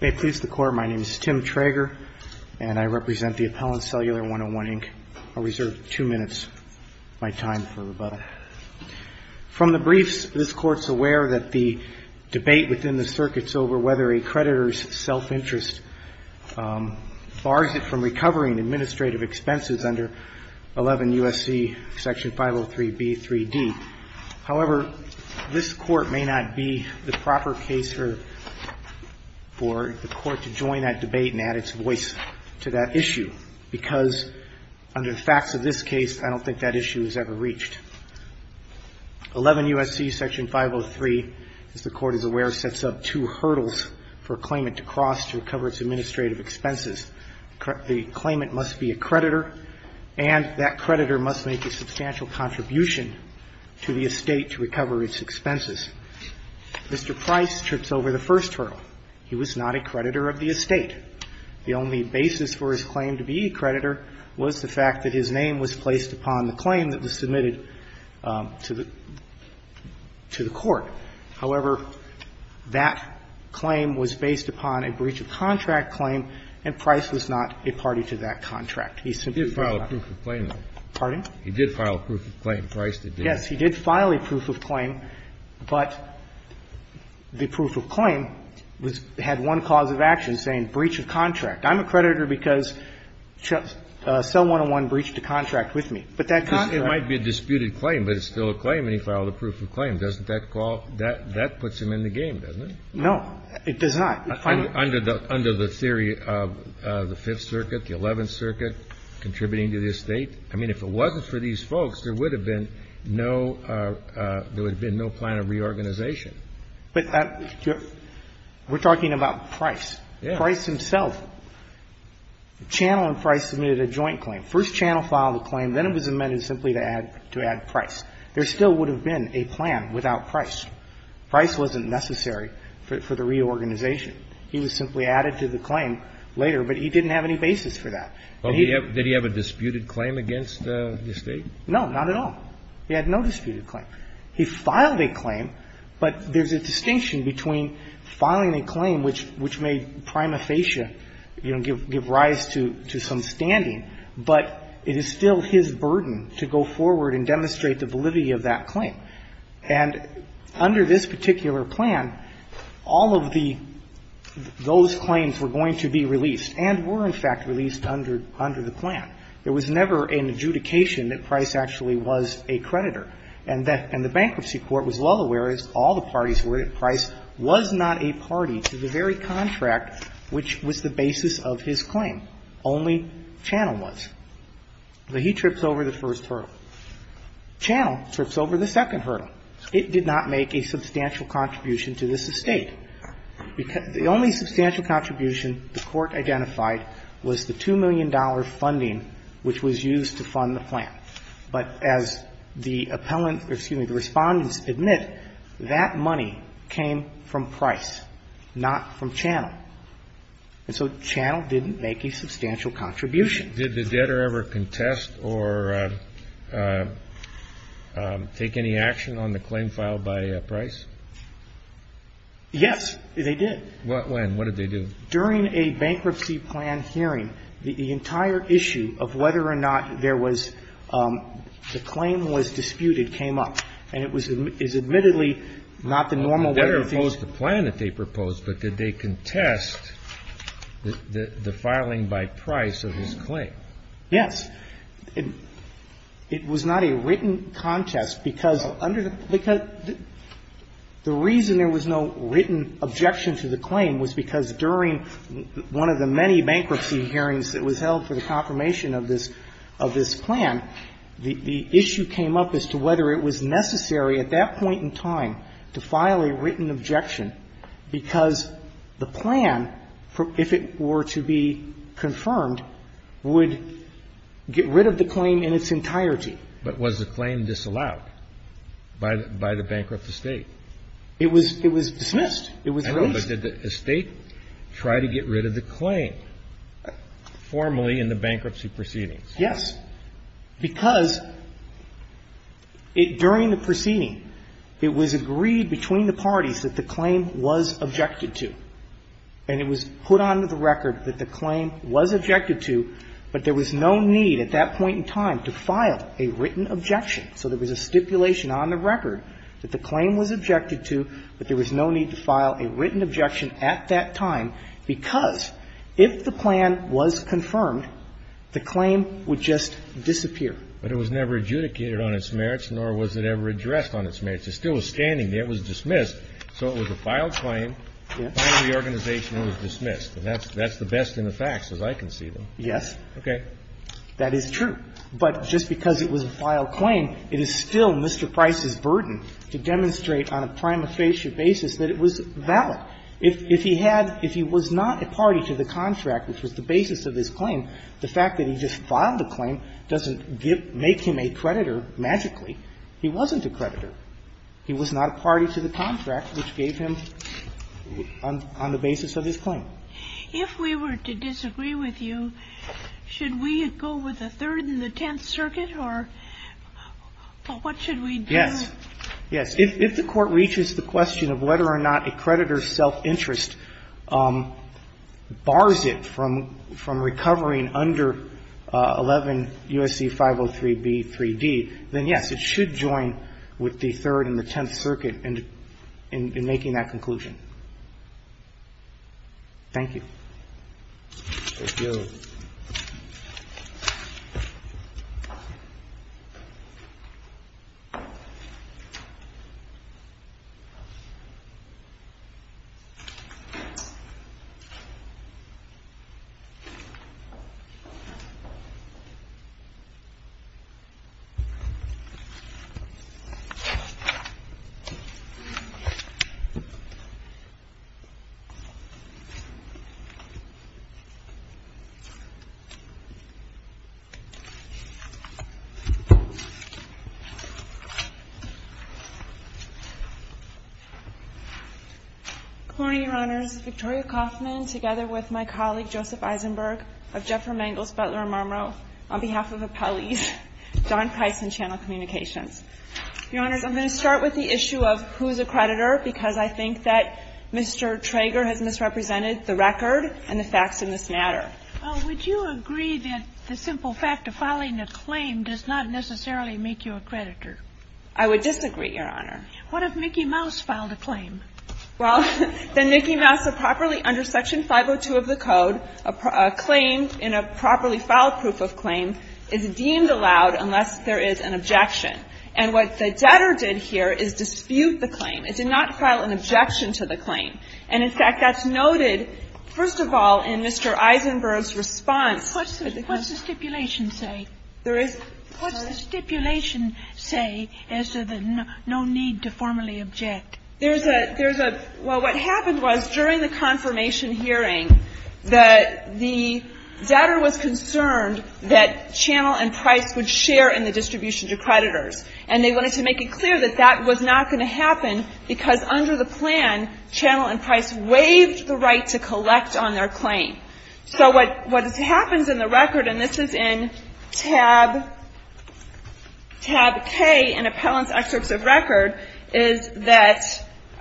May it please the court, my name is Tim Trager and I represent the appellant Cellular 101, Inc. I'll reserve two minutes of my time for rebuttal. From the briefs this court's aware that the debate within the circuit's over whether a creditor's self-interest bars it from recovering administrative expenses under 11 U.S.C. Section 503 B.3.D. However, this court may not be the proper case for the court to join that debate and add its voice to that issue because under the facts of this case I don't think that issue is ever reached. 11 U.S.C. Section 503, as the court is aware, sets up two hurdles for a claimant to cross to recover its administrative expenses. The claimant must be a creditor and that creditor must make a substantial contribution to the estate to recover its expenses. Mr. Price trips over the first hurdle. He was not a creditor of the estate. The only basis for his claim to be a creditor was the fact that his name was placed upon the claim that was submitted to the court. However, that claim was based upon a breach of contract claim and Price was not a party to that contract. He simply filed a proof He did file a proof of claim. Pardon? He did file a proof of claim. Price did not. Yes, he did file a proof of claim, but the proof of claim had one cause of action, saying breach of contract. I'm a creditor because Cell 101 breached a contract with me, but that contract It might be a disputed claim, but it's still a claim and he filed a proof of claim. Doesn't that call That puts him in the game, doesn't it? No, it does not. Under the theory of the Fifth Circuit, the Eleventh Circuit contributing to this state. I mean, if it wasn't for these folks, there would have been no there would have been no plan of reorganization. But we're talking about Price. Yeah. Price himself, Channel and Price submitted a joint claim. First Channel filed a claim. Then it was amended simply to add to add Price. There still would have been a plan without Price. Price wasn't necessary for the reorganization. He was simply added to the claim later, but he didn't have any basis for that. Well, did he have a disputed claim against the State? No, not at all. He had no disputed claim. He filed a claim, but there's a distinction between filing a claim which made prima facie, you know, give rise to some standing, but it is still his burden to go forward and demonstrate the validity of that claim. And under this particular plan, all of the those claims were going to be released and were, in fact, released under the plan. There was never an adjudication that Price actually was a creditor. And the bankruptcy court was well aware, as all the parties were, that Price was not a party to the very contract which was the basis of his claim. Only Channel was. So he trips over the first hurdle. Channel trips over the second hurdle. It did not make a substantial contribution to this estate. The only substantial contribution the Court identified was the $2 million funding which was used to fund the plan. But as the appellant or, excuse me, the Respondents admit, that money came from Price, not from Channel. And so Channel didn't make a substantial contribution. Did the debtor ever contest or take any action on the claim filed by Price? Yes, they did. When? What did they do? During a bankruptcy plan hearing, the entire issue of whether or not there was the claim was disputed came up. And it was admittedly not the normal way to propose the plan that they proposed. But did they contest the filing by Price of his claim? Yes. It was not a written contest because under the the reason there was no written objection to the claim was because during one of the many bankruptcy hearings that was held for the confirmation of this plan, the issue came up as to whether it was necessary at that point in time to file a written objection because the plan, if it were to be confirmed, would get rid of the claim in its entirety. But was the claim disallowed by the bankrupt estate? It was dismissed. It was released. But did the estate try to get rid of the claim formally in the bankruptcy proceedings? Yes. Because during the proceeding, it was agreed between the parties that the claim was objected to, and it was put onto the record that the claim was objected to, but there was no need at that point in time to file a written objection. So there was a stipulation on the record that the claim was objected to, but there was no need to file a written objection at that time because if the plan was confirmed, the claim would just disappear. But it was never adjudicated on its merits, nor was it ever addressed on its merits. It still was standing there. It was dismissed. So it was a filed claim. Yes. By the organization, it was dismissed. And that's the best in the facts, as I can see them. Yes. Okay. That is true. But just because it was a filed claim, it is still Mr. Price's burden to demonstrate on a prima facie basis that it was valid. If he had – if he was not a party to the contract, which was the basis of his claim, the fact that he just filed the claim doesn't make him a creditor magically. He wasn't a creditor. He was not a party to the contract which gave him on the basis of his claim. If we were to disagree with you, should we go with the Third and the Tenth Circuit or what should we do? Yes. Yes. If the Court reaches the question of whether or not a creditor's self-interest bars it from recovering under 11 U.S.C. 503b, 3d, then, yes, it should join with the Third and the Tenth Circuit in making that conclusion. Thank you. Thank you. Good morning, Your Honors. Victoria Kauffman together with my colleague Joseph Eisenberg of Jeffer Mangels Butler & Marmereau on behalf of Appellee's Don Price and Channel Communications. Your Honors, I'm going to start with the issue of who's a creditor because I think that Mr. Trager has misrepresented the record and the facts in this matter. Well, would you agree that the simple fact of filing a claim does not necessarily make you a creditor? I would disagree, Your Honor. What if Mickey Mouse filed a claim? Well, then Mickey Mouse, properly under Section 502 of the Code, a claim in a properly filed proof of claim is deemed allowed unless there is an objection. And what the debtor did here is dispute the claim. It did not file an objection to the claim. And, in fact, that's noted, first of all, in Mr. Eisenberg's response. What's the stipulation say? There is no need to formally object. There's a – well, what happened was during the confirmation hearing that the debtor was concerned that Channel and Price would share in the distribution to creditors. And they wanted to make it clear that that was not going to happen because under the plan, Channel and Price waived the right to collect on their claim. So what happens in the record, and this is in tab K in Appellant's Excerpts of Record, is that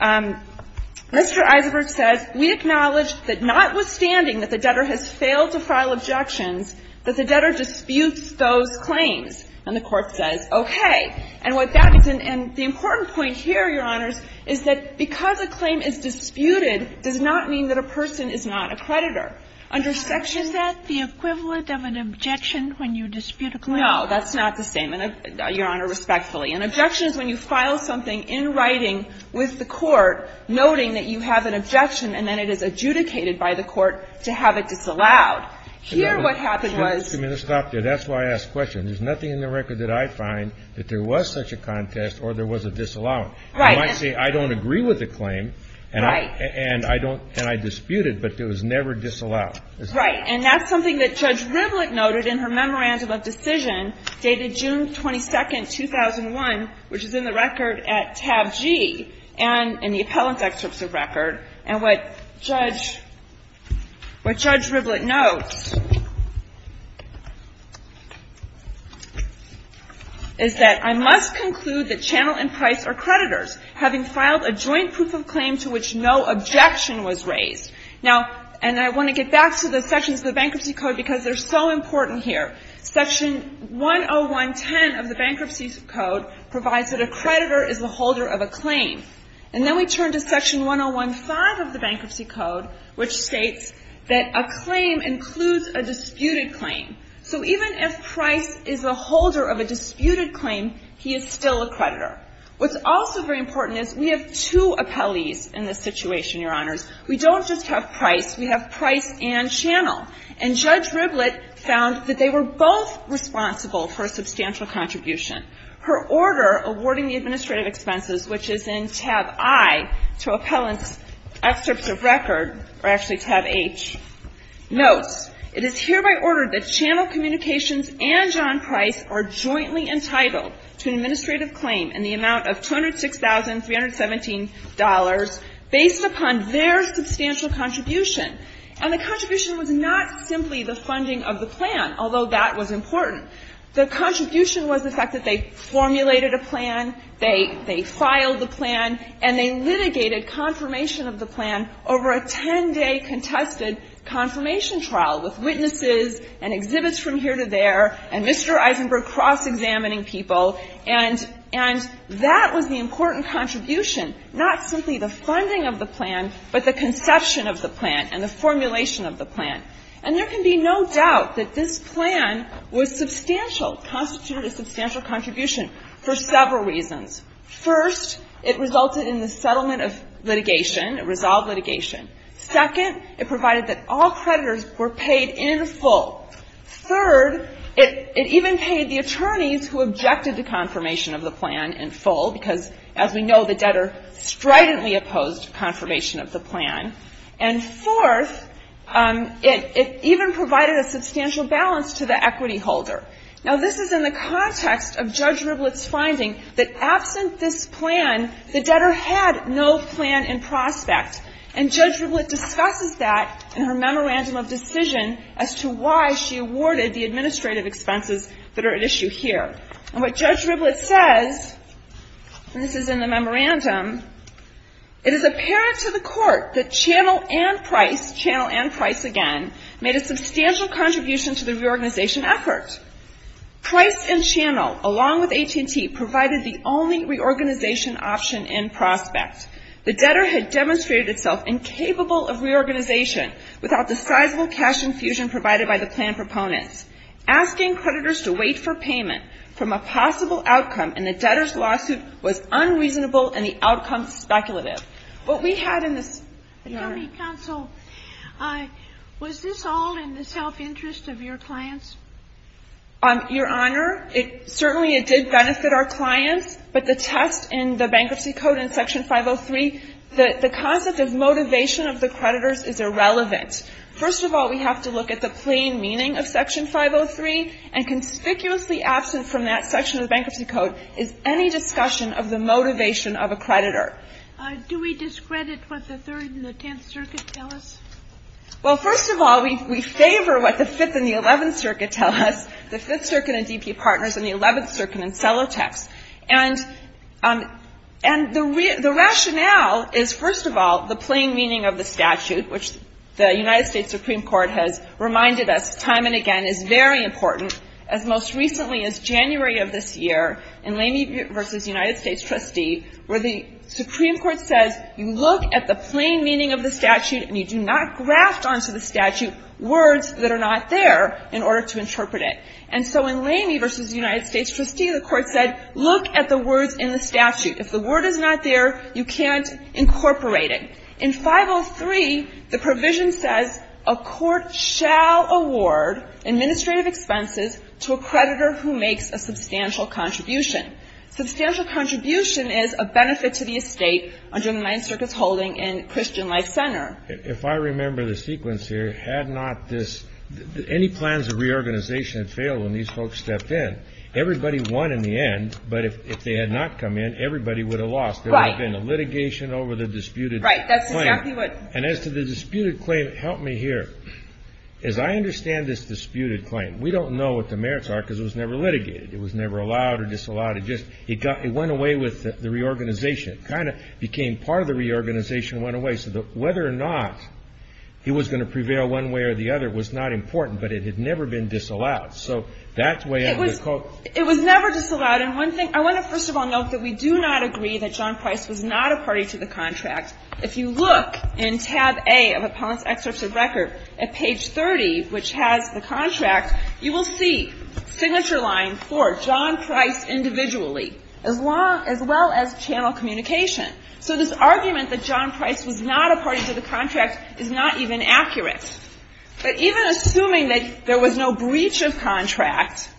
Mr. Eisenberg says, we acknowledge that notwithstanding that the debtor has failed to file objections, that the debtor disputes those claims. And the Court says, okay. And what that is – and the important point here, Your Honors, is that because a claim is disputed does not mean that a person is not a creditor. Under Section 502. Sotomayor, is that the equivalent of an objection when you dispute a claim? No, that's not the same, Your Honor, respectfully. An objection is when you file something in writing with the court noting that you have an objection and then it is adjudicated by the court to have it disallowed. Here what happened was – Just a minute. Stop there. That's why I asked the question. There's nothing in the record that I find that there was such a contest or there was a disallowing. Right. You might say, I don't agree with the claim and I don't – and I disputed, but it was never disallowed. Right. And that's something that Judge Rivlin noted in her Memorandum of Decision dated June 22, 2001, which is in the record at tab G and in the Appellant's Excerpts of Record. And what Judge Rivlin notes is that I must conclude that Channel and Price are creditors, having filed a joint proof of claim to which no objection was raised. Now, and I want to get back to the sections of the Bankruptcy Code because they're so important here. Section 10110 of the Bankruptcy Code provides that a creditor is the holder of a claim. And then we turn to Section 1015 of the Bankruptcy Code, which states that a claim includes a disputed claim. So even if Price is a holder of a disputed claim, he is still a creditor. What's also very important is we have two appellees in this situation, Your Honors. We don't just have Price. We have Price and Channel. And Judge Rivlin found that they were both responsible for a substantial contribution. Her order awarding the administrative expenses, which is in tab I to Appellant's Excerpts of Record, or actually tab H, notes, it is hereby ordered that Channel Communications and John Price are jointly entitled to an administrative claim in the amount of $206,317 based upon their substantial contribution. And the contribution was not simply the funding of the plan, although that was important. The contribution was the fact that they formulated a plan, they filed the plan, and they litigated confirmation of the plan over a 10-day contested confirmation trial with witnesses and exhibits from here to there and Mr. Eisenberg cross-examining people. And that was the important contribution, not simply the funding of the plan, but the fact that they were both responsible for a substantial contribution. And there can be no doubt that this plan was substantial, constituted a substantial contribution for several reasons. First, it resulted in the settlement of litigation, a resolved litigation. Second, it provided that all creditors were paid in full. Third, it even paid the attorneys who objected to confirmation of the plan in full, because, as we know, the debtor stridently opposed confirmation of the plan. And fourth, it even provided a substantial balance to the equity holder. Now, this is in the context of Judge Riblett's finding that absent this plan, the debtor had no plan in prospect. And Judge Riblett discusses that in her memorandum of decision as to why she awarded the administrative expenses that are at issue here. And what Judge Riblett says, and this is in the memorandum, it is apparent to the court that Channel and Price, Channel and Price again, made a substantial contribution to the reorganization effort. Price and Channel, along with AT&T, provided the only reorganization option in prospect. The debtor had demonstrated itself incapable of reorganization without the sizable cash infusion provided by the plan proponents. Asking creditors to wait for payment from a possible outcome in the debtor's lawsuit was unreasonable, and the outcome speculative. What we had in this, Your Honor. Counsel, was this all in the self-interest of your clients? Your Honor, certainly it did benefit our clients, but the test in the Bankruptcy Code in Section 503, the concept of motivation of the creditors is irrelevant. First of all, we have to look at the plain meaning of Section 503, and conspicuously absent from that section of the Bankruptcy Code is any discussion of the motivation of a creditor. Do we discredit what the Third and the Tenth Circuit tell us? Well, first of all, we favor what the Fifth and the Eleventh Circuit tell us, the Fifth Circuit and DP Partners and the Eleventh Circuit and Celotex. And the rationale is, first of all, the plain meaning of the statute, which the United States Supreme Court has reminded us time and again is very important, as most recently as January of this year in Lamey v. United States Trustee, where the Supreme Court says, you look at the plain meaning of the statute and you do not graft onto the statute words that are not there in order to interpret it. And so in Lamey v. United States Trustee, the Court said, look at the words in the statute. If the word is not there, you can't incorporate it. In 503, the provision says, a court shall award administrative expenses to a creditor who makes a substantial contribution. Substantial contribution is a benefit to the estate under the Ninth Circuit's holding in Christian Life Center. If I remember the sequence here, had not this, any plans of reorganization had failed when these folks stepped in. Everybody won in the end, but if they had not come in, everybody would have lost. Right. There would have been a litigation over the disputed claim. Right. That's exactly what. And as to the disputed claim, help me here. As I understand this disputed claim, we don't know what the merits are because it was never litigated. It was never allowed or disallowed. It just went away with the reorganization. It kind of became part of the reorganization and went away. So whether or not it was going to prevail one way or the other was not important, but it had never been disallowed. So that's the way I would quote. It was never disallowed. And one thing, I want to first of all note that we do not agree that John Price was not a party to the contract. If you look in tab A of Appellant's excerpt of record at page 30, which has the contract, you will see signature line 4, John Price individually, as well as channel communication. So this argument that John Price was not a party to the contract is not even accurate. But even assuming that there was no breach of contract,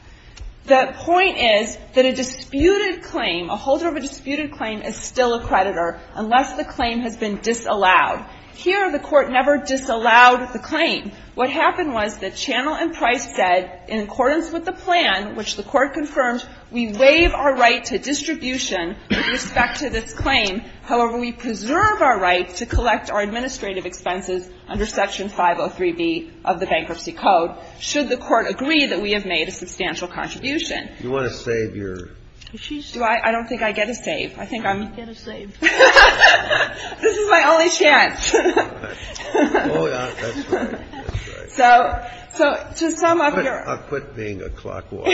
the point is that a disputed claim, a holder of a disputed claim is still a creditor unless the claim has been disallowed. Here, the Court never disallowed the claim. What happened was that Channel and Price said, in accordance with the plan, which the Court confirmed, we waive our right to distribution with respect to this claim. However, we preserve our right to collect our administrative expenses under Section 503B of the Bankruptcy Code, should the Court agree that we have made a substantial contribution. You want to save your ---- I don't think I get a save. I think I'm ---- You get a save. This is my only chance. Oh, that's right. That's right. So to sum up your ---- I'll quit being a clock walker.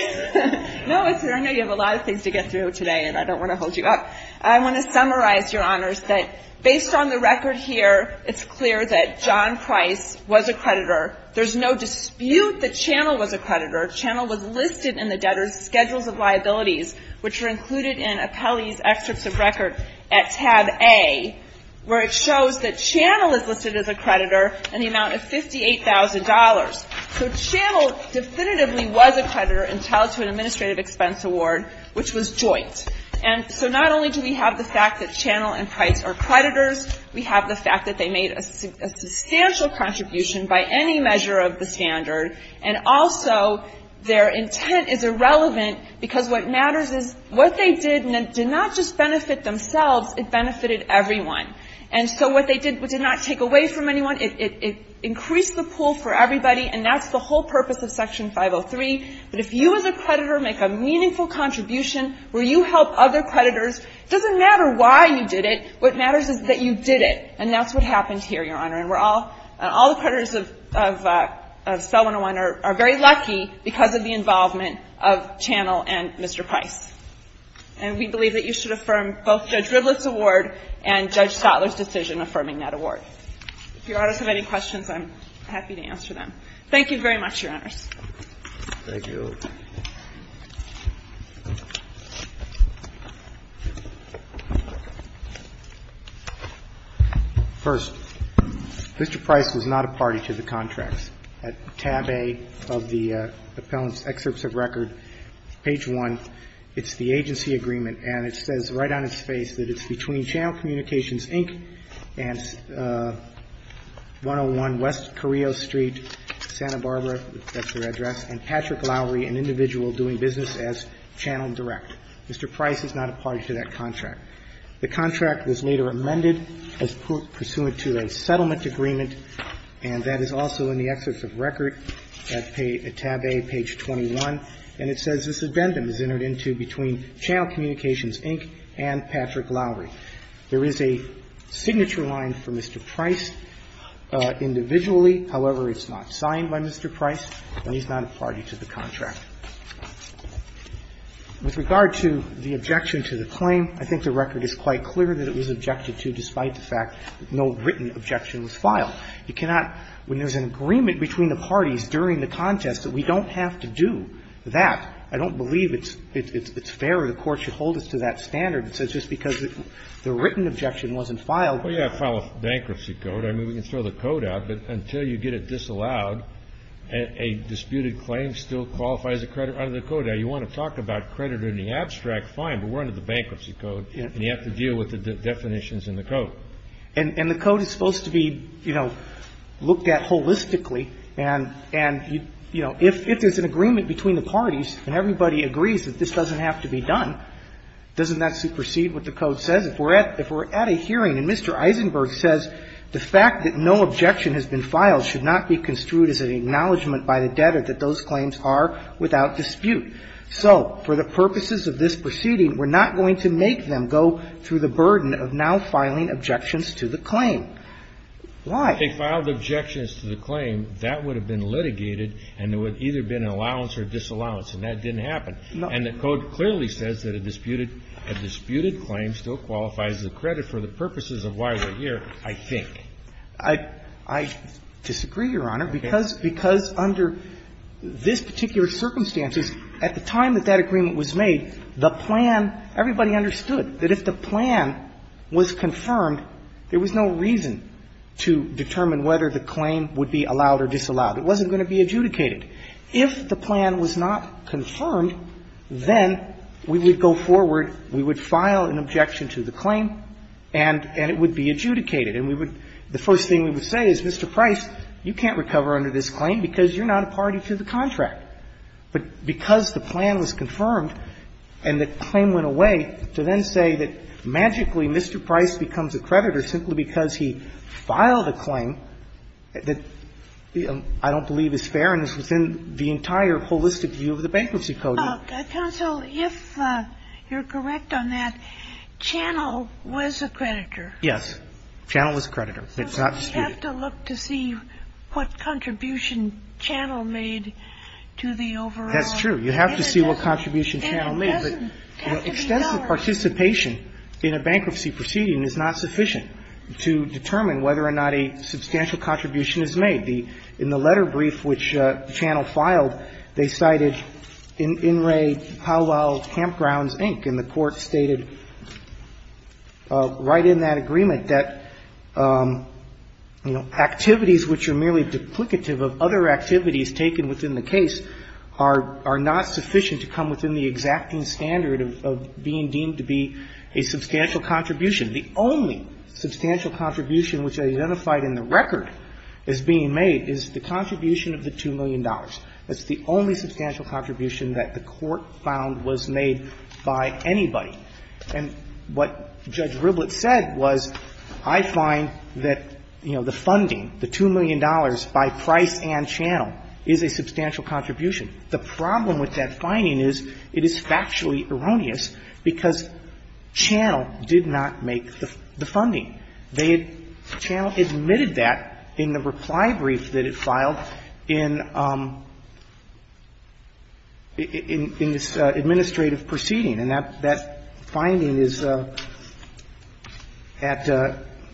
No, I know you have a lot of things to get through today, and I don't want to hold you up. I want to summarize, Your Honors, that based on the record here, it's clear that John Price was a creditor. There's no dispute that Channel was a creditor. Channel was listed in the debtor's schedules of liabilities, which are included in Apelli's excerpts of record at tab A, where it shows that Channel is listed as a creditor in the amount of $58,000. So Channel definitively was a creditor and tied to an administrative expense award, which was joint. And so not only do we have the fact that Channel and Price are creditors, we have the fact that they made a substantial contribution by any measure of the standard, and also their intent is irrelevant because what matters is what they did did not just benefit themselves. It benefited everyone. And so what they did did not take away from anyone. It increased the pool for everybody, and that's the whole purpose of Section 503. But if you as a creditor make a meaningful contribution, where you help other creditors, it doesn't matter why you did it. What matters is that you did it. And that's what happened here, Your Honor. And we're all, all the creditors of Spell 101 are very lucky because of the involvement of Channel and Mr. Price. And we believe that you should affirm both Judge Ridliff's award and Judge Stotler's decision affirming that award. If Your Honors have any questions, I'm happy to answer them. Thank you very much, Your Honors. Thank you. First, Mr. Price was not a party to the contracts. At tab A of the appellant's excerpts of record, page 1, it's the agency agreement, and it says right on its face that it's between Channel Communications, Inc. and 101 West Carrillo Street, Santa Barbara, that's their address, and Patrick Lowry, an individual doing business as Channel Direct. Mr. Price is not a party to that contract. The contract was later amended as pursuant to a settlement agreement, and that is also in the excerpts of record at tab A, page 21, and it says this addendum is entered into between Channel Communications, Inc. and Patrick Lowry. There is a signature line for Mr. Price individually. However, it's not signed by Mr. Price, and he's not a party to the contract. With regard to the objection to the claim, I think the record is quite clear that it was objected to despite the fact that no written objection was filed. You cannot, when there's an agreement between the parties during the contest, that we don't have to do that. I don't believe it's fair or the Court should hold us to that standard. So it's just because the written objection wasn't filed. Well, yeah, file a bankruptcy code. I mean, we can throw the code out, but until you get it disallowed, a disputed claim still qualifies as a credit under the code. Now, you want to talk about credit in the abstract, fine, but we're under the bankruptcy code, and you have to deal with the definitions in the code. And the code is supposed to be, you know, looked at holistically, and, you know, if there's an agreement between the parties and everybody agrees that this doesn't have to be done, doesn't that supersede what the code says? If we're at a hearing and Mr. Eisenberg says the fact that no objection has been filed should not be construed as an acknowledgment by the debtor that those claims are without dispute. So for the purposes of this proceeding, we're not going to make them go through the burden of now filing objections to the claim. Why? If they filed objections to the claim, that would have been litigated and there would have either been an allowance or disallowance, and that didn't happen. And the code clearly says that a disputed claim still qualifies as a credit for the purposes of why we're here, I think. I disagree, Your Honor, because under this particular circumstances, at the time that that agreement was made, the plan, everybody understood that if the plan was confirmed, there was no reason to determine whether the claim would be allowed or disallowed. It wasn't going to be adjudicated. If the plan was not confirmed, then we would go forward, we would file an objection to the claim, and it would be adjudicated, and we would – the first thing we would say is, Mr. Price, you can't recover under this claim because you're not a party to the contract. But because the plan was confirmed and the claim went away, to then say that magically Mr. Price becomes a creditor simply because he filed a claim that I don't believe is fair and is within the entire holistic view of the Bankruptcy Code. Counsel, if you're correct on that, Channel was a creditor. Yes. Channel was a creditor. It's not disputed. So we have to look to see what contribution Channel made to the overall business. That's true. You have to see what contribution Channel made. But extensive participation in a bankruptcy proceeding is not sufficient to determine whether or not a substantial contribution is made. In the letter brief which Channel filed, they cited In Re Howell Campgrounds Inc., and the Court stated right in that agreement that, you know, activities which are merely duplicative of other activities taken within the case are not sufficient to come within the exacting standard of being deemed to be a substantial contribution. The only substantial contribution which identified in the record as being made is the contribution of the $2 million. That's the only substantial contribution that the Court found was made by anybody. And what Judge Riblet said was, I find that, you know, the funding, the $2 million by Price and Channel is a substantial contribution. The problem with that finding is it is factually erroneous because Channel did not make the funding. They had – Channel admitted that in the reply brief that it filed in this administrative proceeding. And that finding is at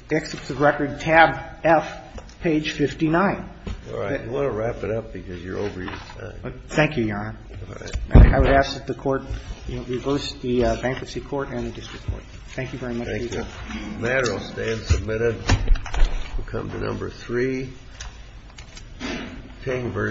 Exits of Record, tab F, page 59. And that's the only substantial contribution that the Court found was made by anybody. Thank you, Your Honor. You want to wrap it up because you're over your time. Thank you, Your Honor. I would ask that the Court reverse the bankruptcy court and the district court. Thank you very much. Thank you. The matter will stay as submitted. We'll come to number three, King v. Siegel.